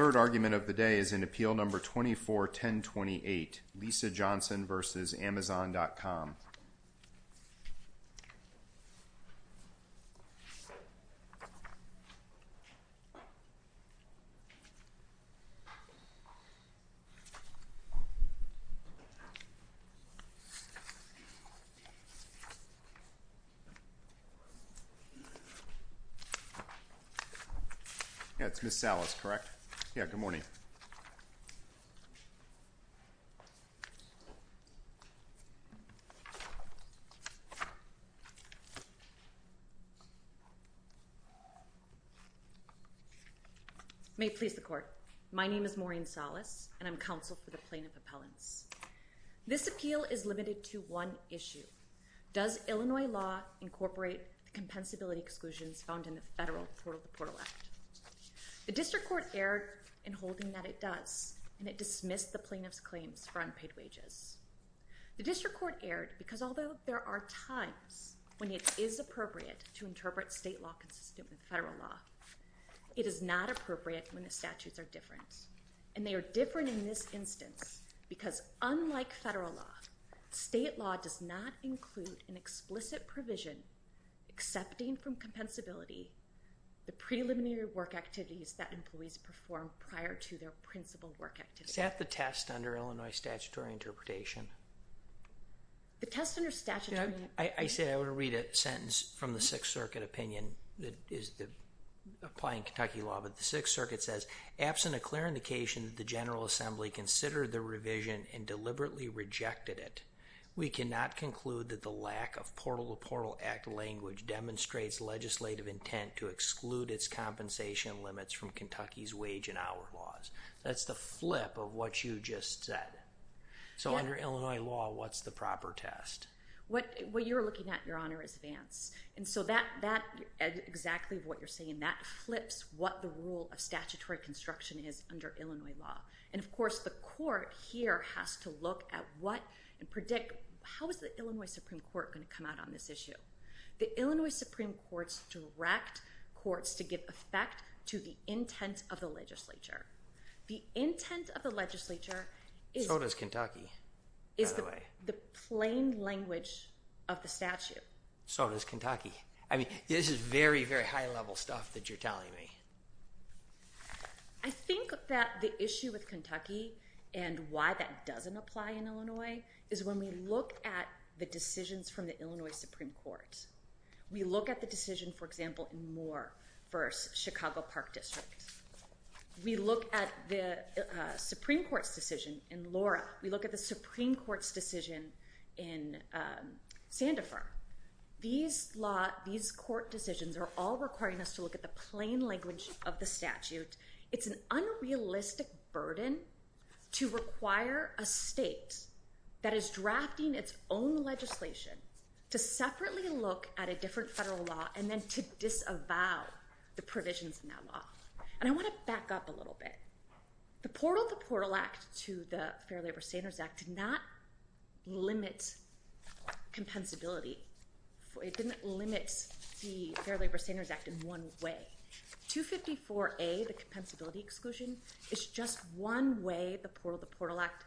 Third argument of the day is in Appeal No. 24-1028, Lisa Johnson v. Amazon.com Yeah, it's Ms. Salas, correct? Yeah, good morning. May it please the Court. My name is Maureen Salas and I'm counsel for the Plaintiff Appellants. This appeal is limited to one issue. Does Illinois law incorporate the compensability exclusions found in the Federal Portal to Portal Act? The District Court erred in holding that it does, and it dismissed the plaintiff's claims for unpaid wages. The District Court erred because although there are times when it is appropriate to interpret state law consistent with federal law, it is not appropriate when the statutes are different. And they are different in this instance because unlike federal law, state law does not include an explicit provision accepting from compensability the preliminary work activities that employees perform prior to their principal work activities. Is that the test under Illinois statutory interpretation? The test under statutory... You know, I said I would read a sentence from the Sixth Circuit opinion that is applying Kentucky law, but the Sixth Circuit says, absent a clear indication that the General Assembly considered the revision and deliberately rejected it, we cannot conclude that the lack of Portal to Portal Act language demonstrates legislative intent to exclude its compensation limits from Kentucky's wage and hour laws. That's the flip of what you just said. So under Illinois law, what's the proper test? What you're looking at, Your Honor, is Vance. And so that, exactly what you're saying, that flips what the rule of statutory construction is under Illinois law. And of course, the court here has to look at what and predict, how is the Illinois Supreme Court going to come out on this issue? The Illinois Supreme Court's direct courts to give effect to the intent of the legislature. The intent of the legislature is... So does Kentucky, by the way. Is the plain language of the statute. So does Kentucky. I mean, this is very, very high level stuff that you're telling me. I think that the issue with Kentucky and why that doesn't apply in Illinois is when we look at the decisions from the Illinois Supreme Court. We look at the decision, for example, in Moore v. Chicago Park District. We look at the Supreme Court's decision in Laura. We look at the Supreme Court's decision in Sandifer. These law, these court decisions are all requiring us to look at the plain language of the statute. It's an unrealistic burden to require a state that is drafting its own legislation to separately look at a different federal law and then to disavow the provisions in that law. And I want to back up a little bit. The Portal to Portal Act to the Fair Labor Standards Act did not limit compensability. It didn't limit the Fair Labor Standards Act in one way. 254A, the Compensability Exclusion, is just one way the Portal to Portal Act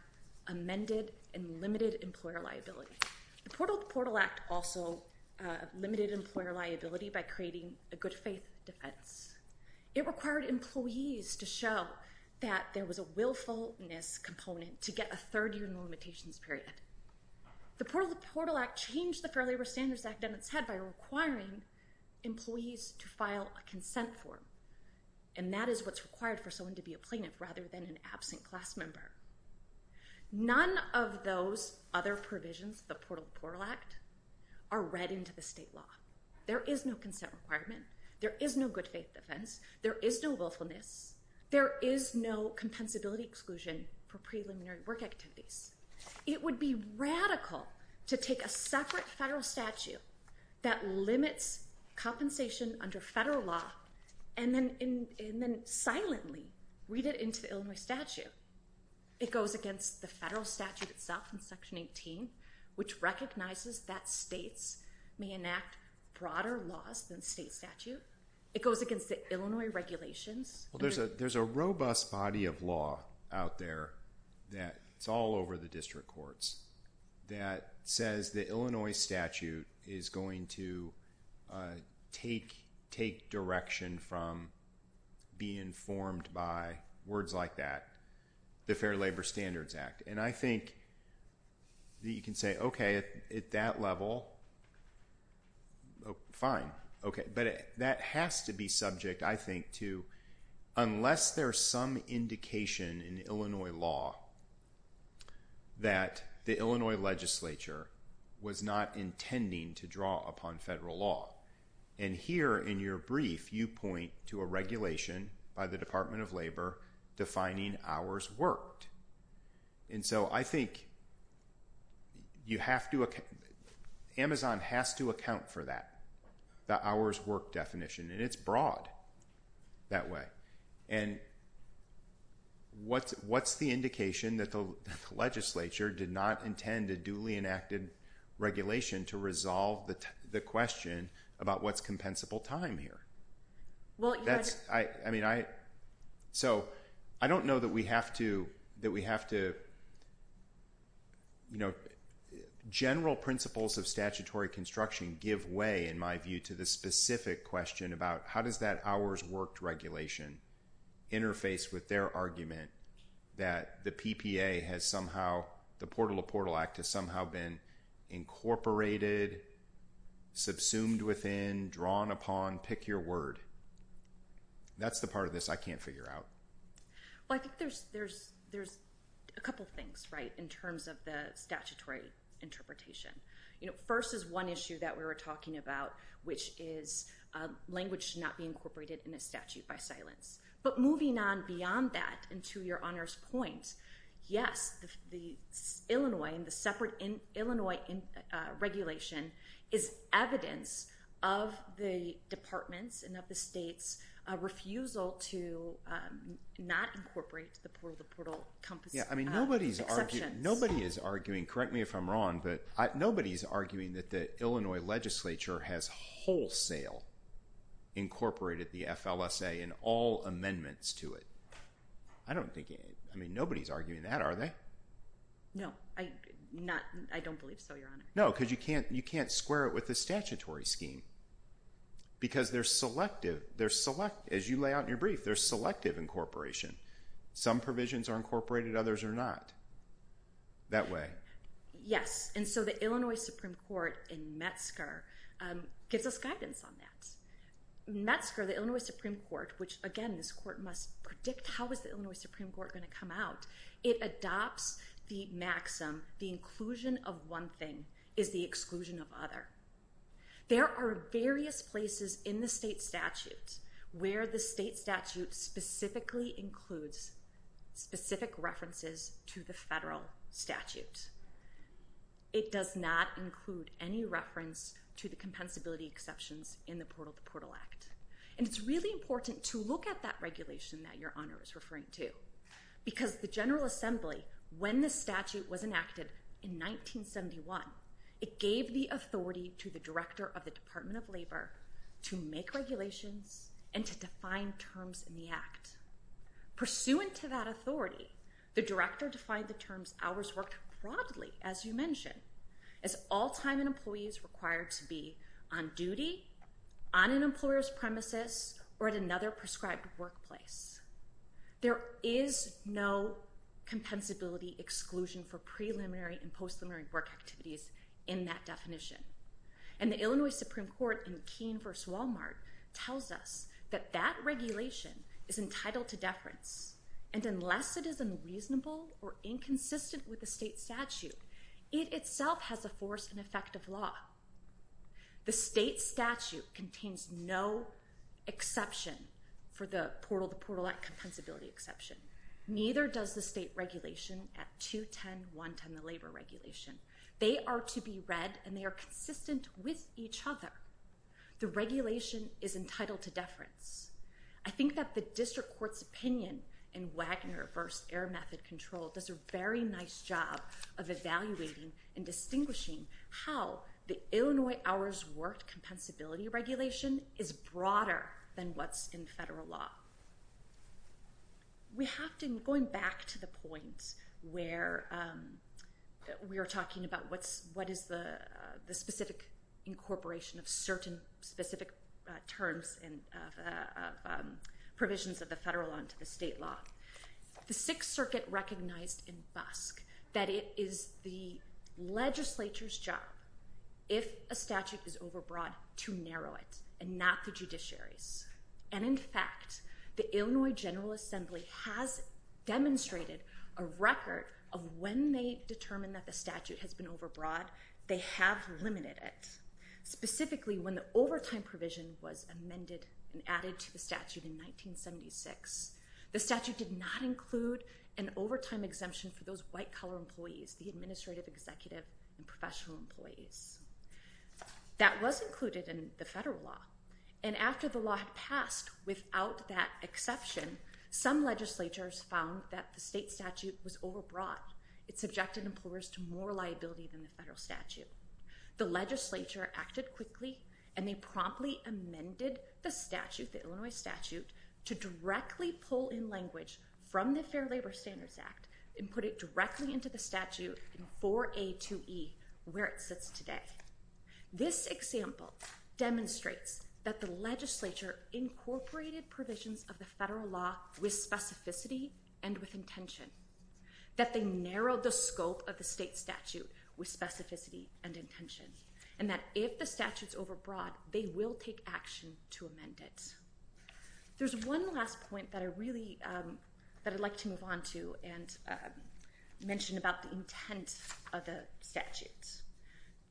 amended and limited employer liability. The Portal to Portal Act also limited employer liability by creating a good faith defense. It required employees to show that there was a willfulness component to get a third year in the limitations period. The Portal to Portal Act changed the Fair Labor Standards Act in its head by requiring employees to file a consent form, and that is what's required for someone to be a plaintiff rather than an absent class member. None of those other provisions, the Portal to Portal Act, are read into the state law. There is no consent requirement. There is no good faith defense. There is no willfulness. There is no Compensability Exclusion for preliminary work activities. It would be radical to take a separate federal statute that limits compensation under federal law and then silently read it into the Illinois statute. It goes against the federal statute itself in Section 18, which recognizes that states may enact broader laws than state statute. It goes against the Illinois regulations. There's a robust body of law out there that's all over the district courts that says the Illinois statute is going to take direction from being formed by words like that, the Fair Labor Standards Act. And I think that you can say, okay, at that level, fine, okay, but that has to be subject, I think, to unless there's some indication in Illinois law that the Illinois legislature was not intending to draw upon federal law. And here in your brief, you point to a regulation by the Department of Labor defining hours worked. And so I think Amazon has to account for that, the hours worked definition, and it's broad that way. And what's the indication that the legislature did not intend a duly enacted regulation to resolve the question about what's compensable time here? That's, I mean, I, so I don't know that we have to, that we have to, you know, general principles of statutory construction give way, in my view, to the specific question about how does that hours worked regulation interface with their argument that the PPA has somehow, the Portal to Portal Act has somehow been incorporated, subsumed within, drawn upon, pick your word. That's the part of this I can't figure out. Well, I think there's a couple things, right, in terms of the statutory interpretation. You know, first is one issue that we were talking about, which is language should not be incorporated in a statute by silence. But moving on beyond that, and to your honor's point, yes, the Illinois and the separate Illinois regulation is evidence of the department's and of the state's refusal to not incorporate the Portal to Portal exceptions. Yeah, I mean, nobody's arguing, nobody is arguing, correct me if I'm wrong, but nobody's arguing that the Illinois legislature has wholesale incorporated the FLSA in all amendments to it. I don't think, I mean, nobody's arguing that, are they? No, I don't believe so, your honor. No, because you can't square it with the statutory scheme, because they're selective, as you lay out in your brief, they're selective incorporation. Some provisions are incorporated, others are not, that way. Yes, and so the Illinois Supreme Court in Metzger gives us guidance on that. Metzger, the Illinois Supreme Court, which again, this court must predict how is the Illinois Supreme Court going to come out. It adopts the maxim, the inclusion of one thing is the exclusion of other. There are various places in the state statute where the state statute specifically includes specific references to the federal statute. It does not include any reference to the compensability exceptions in the Portal to Portal Act. And it's really important to look at that regulation that your honor is referring to, because the General Assembly, when the statute was enacted in 1971, it gave the authority to the director of the Department of Labor to make regulations and to define terms in the act. Pursuant to that authority, the director defined the terms, hours worked broadly, as you mentioned, as all time and employees required to be on duty, on an employer's premises, or at another prescribed workplace. There is no compensability exclusion for preliminary and post-preliminary work activities in that definition. And the Illinois Supreme Court in Keene v. Walmart tells us that that regulation is entitled to deference. And unless it is unreasonable or inconsistent with the state statute, it itself has a force and effect of law. The state statute contains no exception for the Portal to Portal Act compensability exception. Neither does the state regulation at 210.110, the labor regulation. They are to be read and they are consistent with each other. The regulation is entitled to deference. I think that the district court's opinion in Wagner v. Air Method Control does a very nice job of evaluating and distinguishing how the Illinois hours worked compensability regulation is broader than what's in federal law. We have to, going back to the point where we were talking about what is the specific incorporation of certain specific terms and provisions of the federal law into the state law. The Sixth Circuit recognized in Busk that it is the legislature's job, if a statute is overbroad, to narrow it and not the judiciary's. And in fact, the Illinois General Assembly has demonstrated a record of when they determined that the statute has been overbroad, they have limited it. Specifically, when the overtime provision was amended and added to the statute in 1976. The statute did not include an overtime exemption for those white-collar employees, the administrative, executive, and professional employees. That was included in the federal law. And after the law had passed, without that exception, some legislatures found that the state statute was overbroad. It subjected employers to more liability than the federal statute. The legislature acted quickly and they promptly amended the statute, the Illinois statute, to directly pull in language from the Fair Labor Standards Act and put it directly into the statute in 4A2E, where it sits today. This example demonstrates that the legislature incorporated provisions of the federal law with specificity and with intention. That they narrowed the scope of the state statute with specificity and intention. And that if the statute's overbroad, they will take action to amend it. There's one last point that I'd like to move on to and mention about the intent of the statute.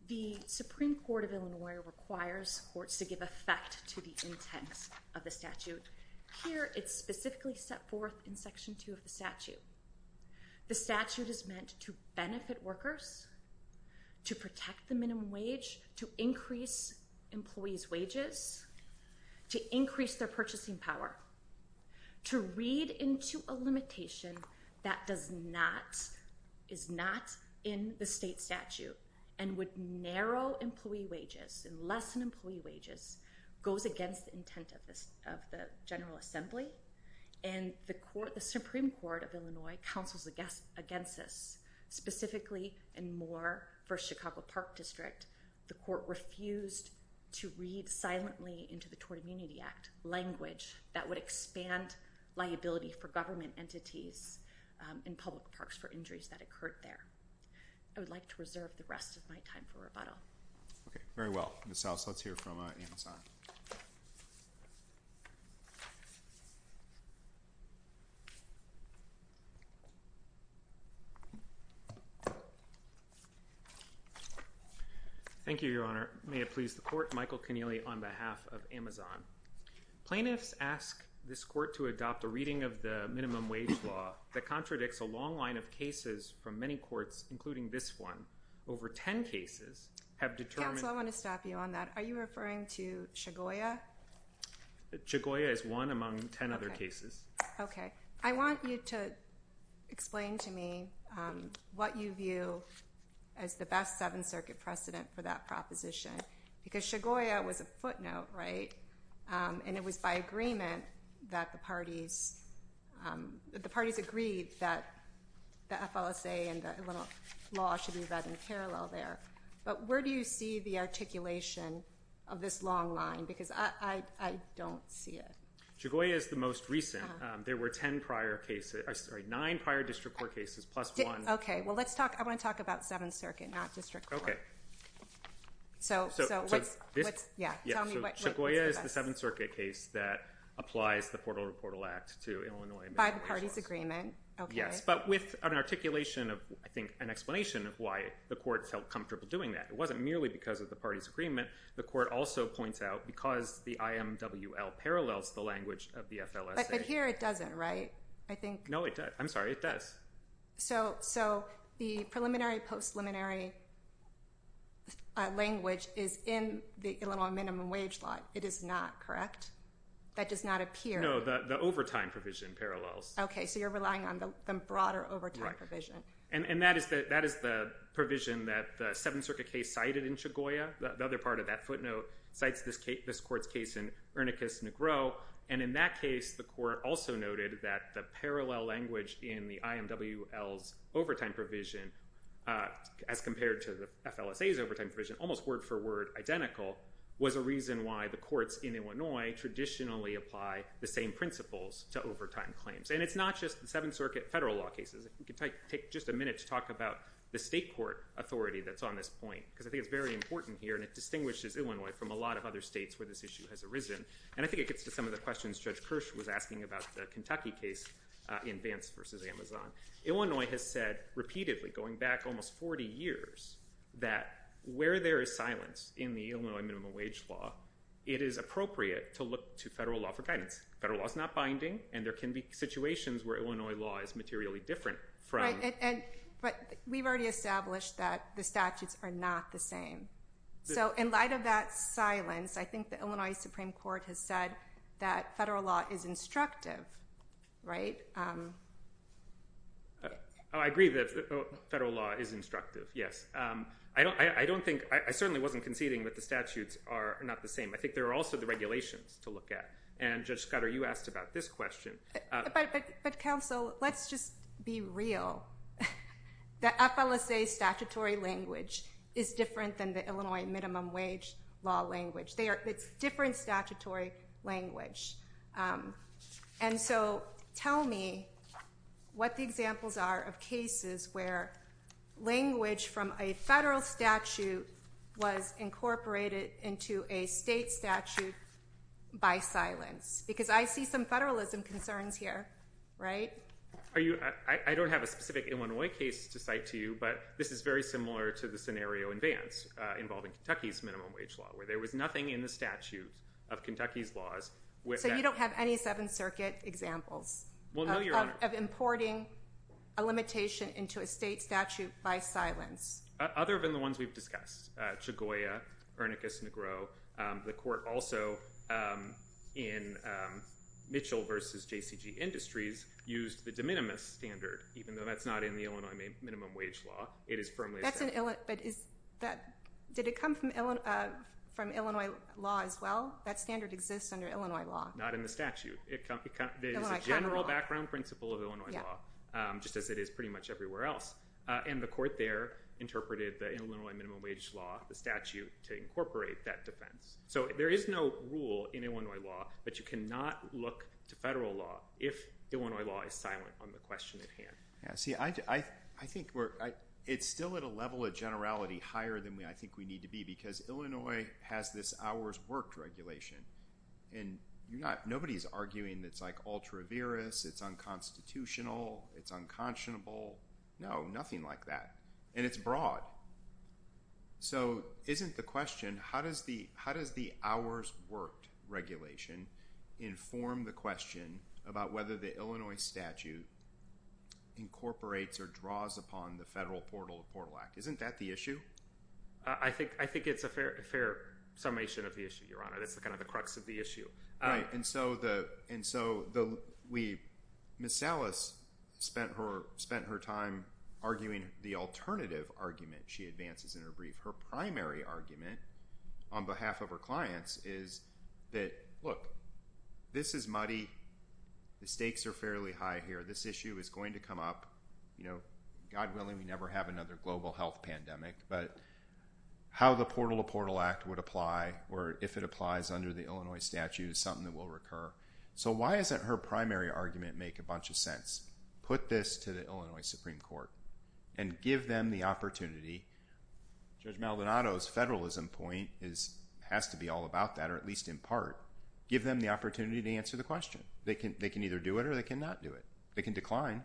The Supreme Court of Illinois requires courts to give effect to the intent of the statute. Here, it's specifically set forth in Section 2 of the statute. The statute is meant to benefit workers, to protect the minimum wage, to increase employees' wages, to increase their purchasing power. To read into a limitation that is not in the state statute and would narrow employee wages and lessen employee wages, goes against the intent of the General Assembly. And the Supreme Court of Illinois counsels against this. Specifically, in Moore v. Chicago Park District, the court refused to read silently into the Tort Immunity Act language that would expand liability for government entities in public parks for injuries that occurred there. I would like to reserve the rest of my time for rebuttal. Okay, very well. Ms. House, let's hear from Amazon. Thank you, Your Honor. May it please the Court, Michael Connealy on behalf of Amazon. Plaintiffs ask this court to adopt a reading of the minimum wage law that contradicts a long line of cases from many courts, including this one. Over ten cases have determined- Counsel, I want to stop you on that. Are you referring to Chagoya? Chagoya is one among ten other cases. Okay. I want you to explain to me what you view as the best Seventh Circuit precedent for that proposition. Because Chagoya was a footnote, right? And it was by agreement that the parties agreed that the FLSA and the law should be read in parallel there. But where do you see the articulation of this long line? Because I don't see it. Chagoya is the most recent. There were nine prior district court cases, plus one- Okay, well, I want to talk about Seventh Circuit, not district court. Okay. So, what's- So, that's the Seventh Circuit case that applies the Portal to Portal Act to Illinois minimum wage laws. By the parties' agreement. Okay. Yes, but with an articulation of, I think, an explanation of why the courts felt comfortable doing that. It wasn't merely because of the parties' agreement. The court also points out, because the IMWL parallels the language of the FLSA- But here it doesn't, right? I think- No, it does. I'm sorry, it does. So, the preliminary, post-preliminary language is in the Illinois minimum wage law. It is not, correct? That does not appear. No, the overtime provision parallels. Okay, so you're relying on the broader overtime provision. And that is the provision that the Seventh Circuit case cited in Chagoya. The other part of that footnote cites this court's case in Ernickus-Negro. And in that case, the court also noted that the parallel language in the IMWL's overtime provision, as compared to the FLSA's overtime provision, almost word-for-word identical, was a reason why the courts in Illinois traditionally apply the same principles to overtime claims. And it's not just the Seventh Circuit federal law cases. It could take just a minute to talk about the state court authority that's on this point. Because I think it's very important here, and it distinguishes Illinois from a lot of other states where this issue has arisen. And I think it gets to some of the questions Judge Kirsch was asking about the Kentucky case in Vance v. Amazon. Illinois has said repeatedly, going back almost 40 years, that where there is silence in the Illinois minimum wage law, it is appropriate to look to federal law for guidance. Federal law is not binding, and there can be situations where Illinois law is materially different from. Right, but we've already established that the statutes are not the same. So in light of that silence, I think the Illinois Supreme Court has said that federal law is instructive, right? I agree that federal law is instructive, yes. I don't think, I certainly wasn't conceding that the statutes are not the same. I think there are also the regulations to look at, and Judge Scudder, you asked about this question. But counsel, let's just be real. The FLSA statutory language is different than the Illinois minimum wage law language. It's different statutory language. And so tell me what the examples are of cases where language from a federal statute was incorporated into a state statute by silence. Because I see some federalism concerns here, right? I don't have a specific Illinois case to cite to you, but this is very similar to the scenario in Vance involving Kentucky's minimum wage law, where there was nothing in the statute of Kentucky's laws. So you don't have any Seventh Circuit examples of importing a limitation into a state statute by silence? Other than the ones we've discussed. The court also in Mitchell v. JCG Industries used the de minimis standard, even though that's not in the Illinois minimum wage law. Did it come from Illinois law as well? That standard exists under Illinois law. Not in the statute. It is a general background principle of Illinois law, just as it is pretty much everywhere else. And the court there interpreted the Illinois minimum wage law, the statute, to incorporate that defense. So there is no rule in Illinois law, but you cannot look to federal law if Illinois law is silent on the question at hand. See, I think it's still at a level of generality higher than I think we need to be, because Illinois has this hours worked regulation. And nobody's arguing that it's like ultra-virus, it's unconstitutional, it's unconscionable. No, nothing like that. And it's broad. So isn't the question, how does the hours worked regulation inform the question about whether the Illinois statute incorporates or draws upon the federal portal of the Portal Act? Isn't that the issue? I think it's a fair summation of the issue, Your Honor. That's kind of the crux of the issue. Right. And so Ms. Salas spent her time arguing the alternative argument she advances in her brief. Her primary argument on behalf of her clients is that, look, this is muddy. The stakes are fairly high here. This issue is going to come up. God willing, we never have another global health pandemic. But how the Portal to Portal Act would apply, or if it applies under the Illinois statute, is something that will recur. So why doesn't her primary argument make a bunch of sense? Put this to the Illinois Supreme Court and give them the opportunity. Judge Maldonado's federalism point has to be all about that, or at least in part. Give them the opportunity to answer the question. They can either do it or they cannot do it. They can decline.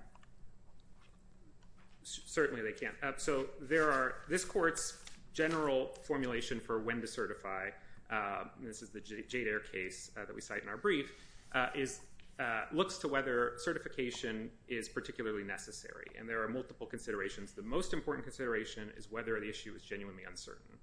Certainly they can. So this court's general formulation for when to certify, and this is the Jader case that we cite in our brief, looks to whether certification is particularly necessary. And there are multiple considerations. The most important consideration is whether the issue is genuinely uncertain.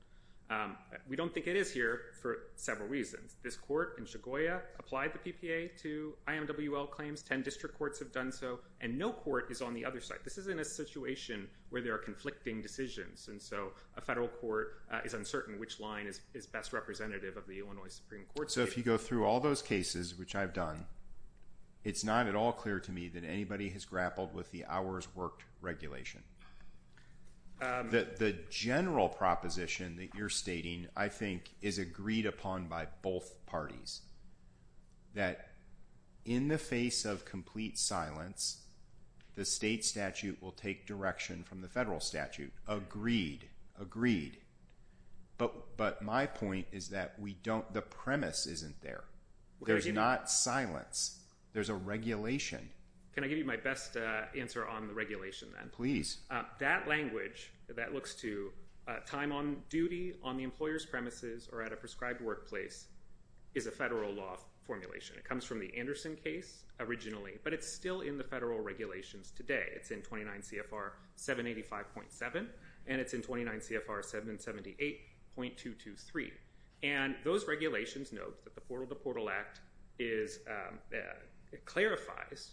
We don't think it is here for several reasons. This court in Chegoya applied the PPA to IMWL claims. Ten district courts have done so, and no court is on the other side. This isn't a situation where there are conflicting decisions, and so a federal court is uncertain which line is best representative of the Illinois Supreme Court. So if you go through all those cases, which I've done, it's not at all clear to me that anybody has grappled with the hours worked regulation. The general proposition that you're stating, I think, is agreed upon by both parties, that in the face of complete silence, the state statute will take direction from the federal statute. Agreed. Agreed. But my point is that the premise isn't there. There's not silence. There's a regulation. Can I give you my best answer on the regulation, then? Please. That language that looks to time on duty, on the employer's premises, or at a prescribed workplace is a federal law formulation. It comes from the Anderson case originally, but it's still in the federal regulations today. It's in 29 CFR 785.7, and it's in 29 CFR 778.223. And those regulations note that the Portal to Portal Act clarifies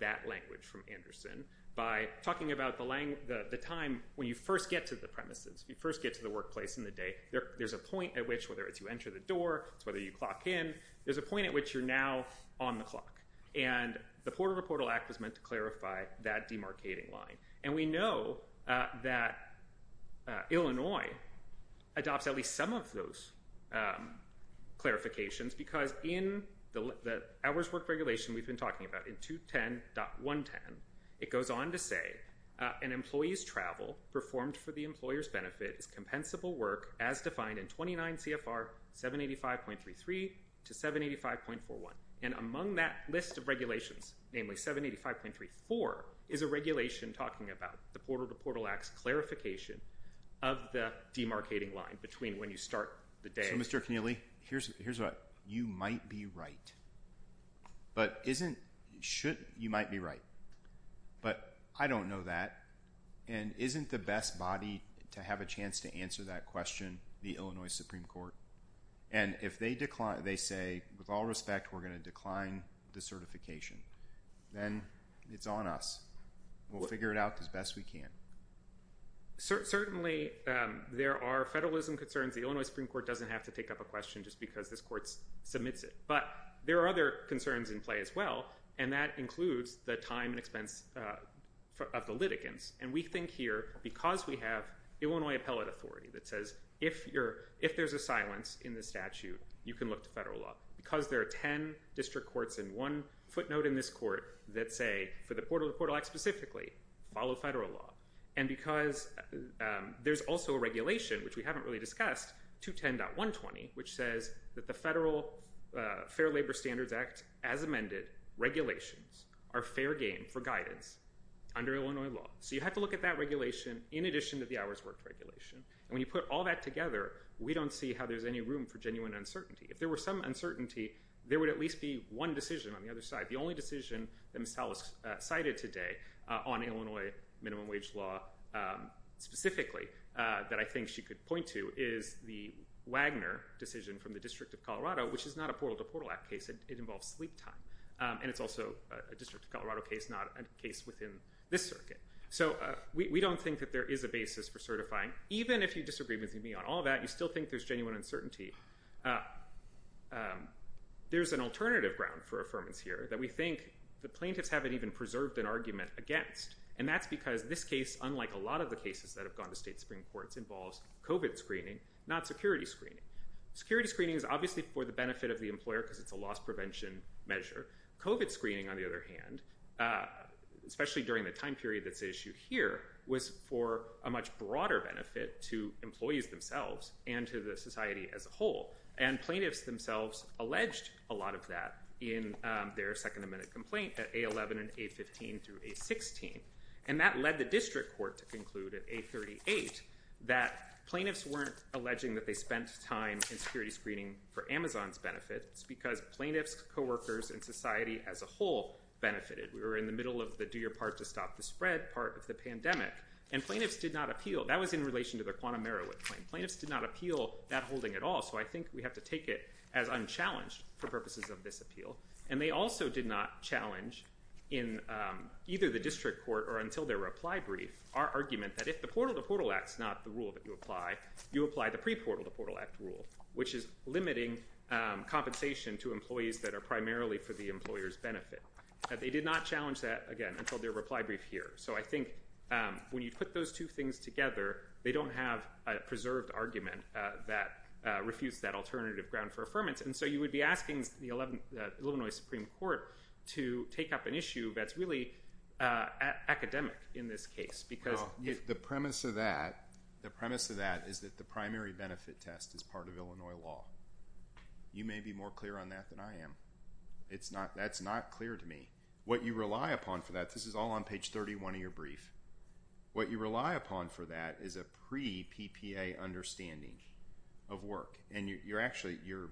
that language from Anderson by talking about the time when you first get to the premises, when you first get to the workplace in the day. There's a point at which, whether it's you enter the door, whether you clock in, there's a point at which you're now on the clock. And the Portal to Portal Act was meant to clarify that demarcating line. And we know that Illinois adopts at least some of those clarifications because in the hours worked regulation we've been talking about, in 210.110, it goes on to say an employee's travel performed for the employer's benefit is compensable work as defined in 29 CFR 785.33 to 785.41. And among that list of regulations, namely 785.34, is a regulation talking about the Portal to Portal Act's clarification of the demarcating line between when you start the day. So, Mr. Connealy, here's what. You might be right. But isn't, should, you might be right. But I don't know that. And isn't the best body to have a chance to answer that question the Illinois Supreme Court? And if they say, with all respect, we're going to decline the certification, then it's on us. We'll figure it out as best we can. Certainly, there are federalism concerns. The Illinois Supreme Court doesn't have to take up a question just because this court submits it. But there are other concerns in play as well, and that includes the time and expense of the litigants. And we think here, because we have Illinois appellate authority that says, if there's a silence in the statute, you can look to federal law. Because there are ten district courts and one footnote in this court that say, for the Portal to Portal Act specifically, follow federal law. And because there's also a regulation, which we haven't really discussed, 210.120, which says that the Federal Fair Labor Standards Act, as amended, regulations are fair game for guidance under Illinois law. So you have to look at that regulation in addition to the hours worked regulation. And when you put all that together, we don't see how there's any room for genuine uncertainty. If there were some uncertainty, there would at least be one decision on the other side. The only decision that Ms. Tallis cited today on Illinois minimum wage law specifically, that I think she could point to, is the Wagner decision from the District of Colorado, which is not a Portal to Portal Act case. It involves sleep time. And it's also a District of Colorado case, not a case within this circuit. So we don't think that there is a basis for certifying. Even if you disagree with me on all that, you still think there's genuine uncertainty. There's an alternative ground for affirmance here that we think the plaintiffs haven't even preserved an argument against. And that's because this case, unlike a lot of the cases that have gone to state Supreme Courts, involves COVID screening, not security screening. Security screening is obviously for the benefit of the employer because it's a loss prevention measure. COVID screening, on the other hand, especially during the time period that's issued here, was for a much broader benefit to employees themselves and to the society as a whole. And plaintiffs themselves alleged a lot of that in their Second Amendment complaint at A11 and A15 through A16. And that led the District Court to conclude at A38 that plaintiffs weren't alleging that they spent time in security screening for Amazon's benefit. It's because plaintiffs, coworkers, and society as a whole benefited. We were in the middle of the do-your-part-to-stop-the-spread part of the pandemic, and plaintiffs did not appeal. That was in relation to their Quantum Merowith claim. Plaintiffs did not appeal that holding at all, so I think we have to take it as unchallenged for purposes of this appeal. And they also did not challenge in either the District Court or until their reply brief our argument that if the Portal to Portal Act is not the rule that you apply, you apply the pre-Portal to Portal Act rule, which is limiting compensation to employees that are primarily for the employer's benefit. They did not challenge that, again, until their reply brief here. So I think when you put those two things together, they don't have a preserved argument that refutes that alternative ground for affirmance. And so you would be asking the Illinois Supreme Court to take up an issue that's really academic in this case. Well, the premise of that is that the primary benefit test is part of Illinois law. You may be more clear on that than I am. That's not clear to me. What you rely upon for that – this is all on page 31 of your brief – what you rely upon for that is a pre-PPA understanding of work. And you're actually – you're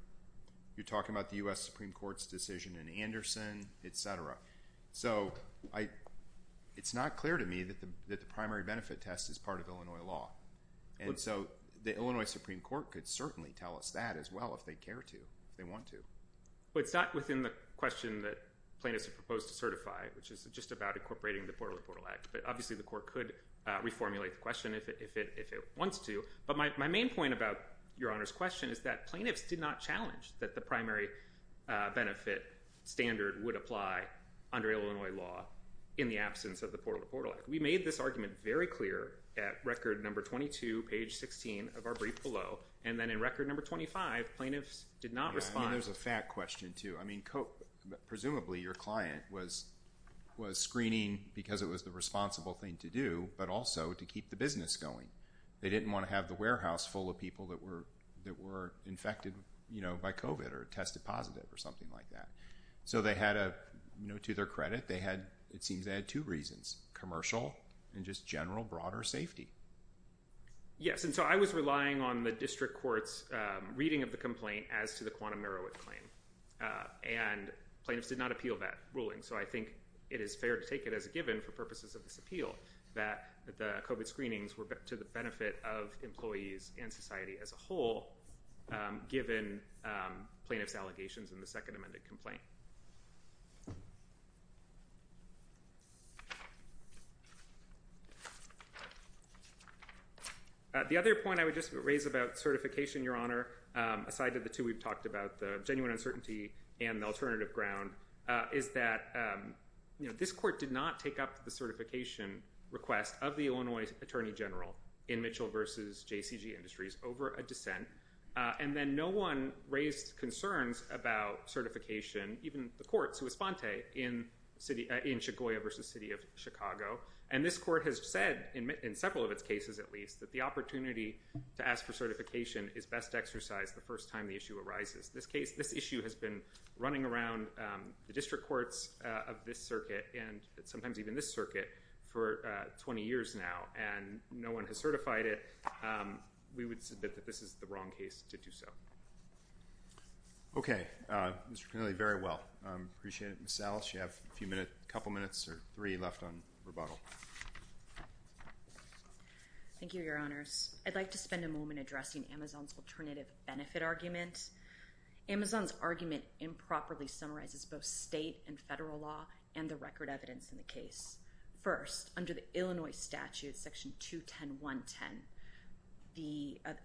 talking about the U.S. Supreme Court's decision in Anderson, et cetera. So it's not clear to me that the primary benefit test is part of Illinois law. And so the Illinois Supreme Court could certainly tell us that as well if they care to, if they want to. Well, it's not within the question that plaintiffs have proposed to certify, which is just about incorporating the Portal-to-Portal Act. But obviously the court could reformulate the question if it wants to. But my main point about Your Honor's question is that plaintiffs did not challenge that the primary benefit standard would apply under Illinois law in the absence of the Portal-to-Portal Act. We made this argument very clear at record number 22, page 16 of our brief below. And then in record number 25, plaintiffs did not respond. I mean, there's a fact question too. I mean, presumably your client was screening because it was the responsible thing to do, but also to keep the business going. They didn't want to have the warehouse full of people that were infected by COVID or tested positive or something like that. So they had a – to their credit, they had – it seems they had two reasons, commercial and just general broader safety. Yes, and so I was relying on the district court's reading of the complaint as to the quantum narrow it claim. And plaintiffs did not appeal that ruling. So I think it is fair to take it as a given for purposes of this appeal that the COVID screenings were to the benefit of employees and society as a whole, given plaintiffs' allegations in the second amended complaint. The other point I would just raise about certification, Your Honor, aside to the two we've talked about, the genuine uncertainty and the alternative ground, is that this court did not take up the certification request of the Illinois Attorney General in Mitchell v. JCG Industries over a dissent. And then no one raised concerns about certification, even the court, Suespante, in Chicoya v. City of Chicago. And this court has said, in several of its cases at least, that the opportunity to ask for certification is best exercised the first time the issue arises. This issue has been running around the district courts of this circuit and sometimes even this circuit for 20 years now. And no one has certified it. We would submit that this is the wrong case to do so. Okay. Mr. Connelly, very well. I appreciate it. Ms. Ellis, you have a couple minutes or three left on rebuttal. Thank you, Your Honors. I'd like to spend a moment addressing Amazon's alternative benefit argument. Amazon's argument improperly summarizes both state and federal law and the record evidence in the case. First, under the Illinois statute, Section 210.110,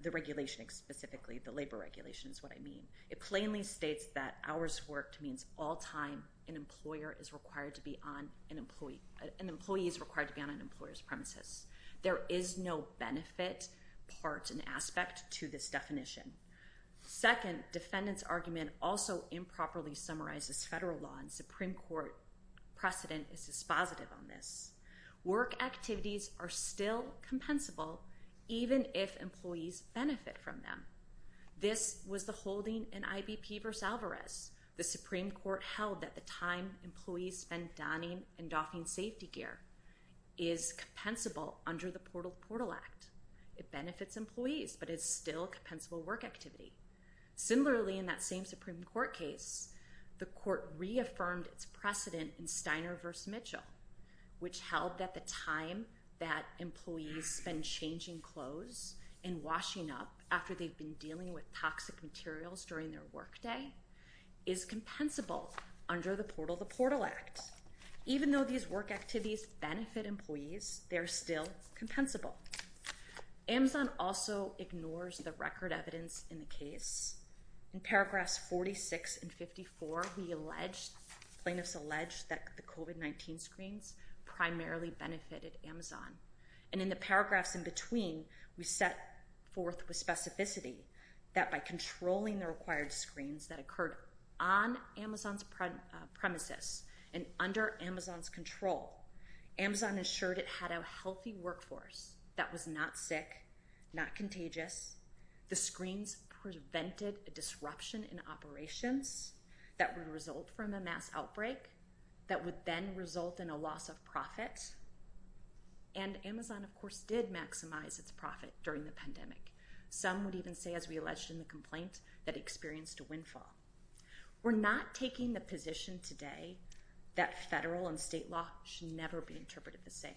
the regulation specifically, the labor regulation is what I mean, it plainly states that hours worked means all time an employee is required to be on an employer's premises. There is no benefit part and aspect to this definition. Second, defendant's argument also improperly summarizes federal law and Supreme Court precedent is dispositive on this. Work activities are still compensable even if employees benefit from them. This was the holding in IBP v. Alvarez. The Supreme Court held that the time employees spend donning and doffing safety gear is compensable under the Portal to Portal Act. It benefits employees, but it's still a compensable work activity. Similarly, in that same Supreme Court case, the court reaffirmed its precedent in Steiner v. Mitchell, which held that the time that employees spend changing clothes and washing up after they've been dealing with toxic materials during their work day is compensable under the Portal to Portal Act. Even though these work activities benefit employees, they're still compensable. Amazon also ignores the record evidence in the case. In paragraphs 46 and 54, plaintiffs allege that the COVID-19 screens primarily benefited Amazon. And in the paragraphs in between, we set forth with specificity that by controlling the required screens that occurred on Amazon's premises and under Amazon's control, Amazon assured it had a healthy workforce that was not sick, not contagious. The screens prevented a disruption in operations that would result from a mass outbreak that would then result in a loss of profit. And Amazon, of course, did maximize its profit during the pandemic. Some would even say, as we alleged in the complaint, that experienced a windfall. We're not taking the position today that federal and state law should never be interpreted the same.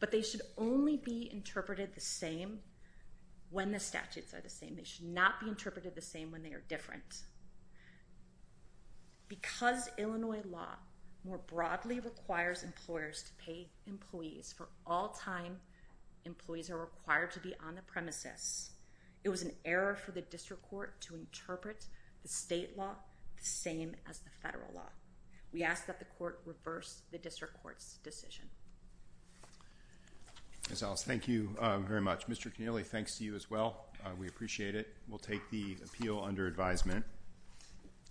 But they should only be interpreted the same when the statutes are the same. They should not be interpreted the same when they are different. Because Illinois law more broadly requires employers to pay employees for all time employees are required to be on the premises, it was an error for the district court to interpret the state law the same as the federal law. We ask that the court reverse the district court's decision. Ms. Ellis, thank you very much. Mr. Keneally, thanks to you as well. We appreciate it. We'll take the appeal under advisement.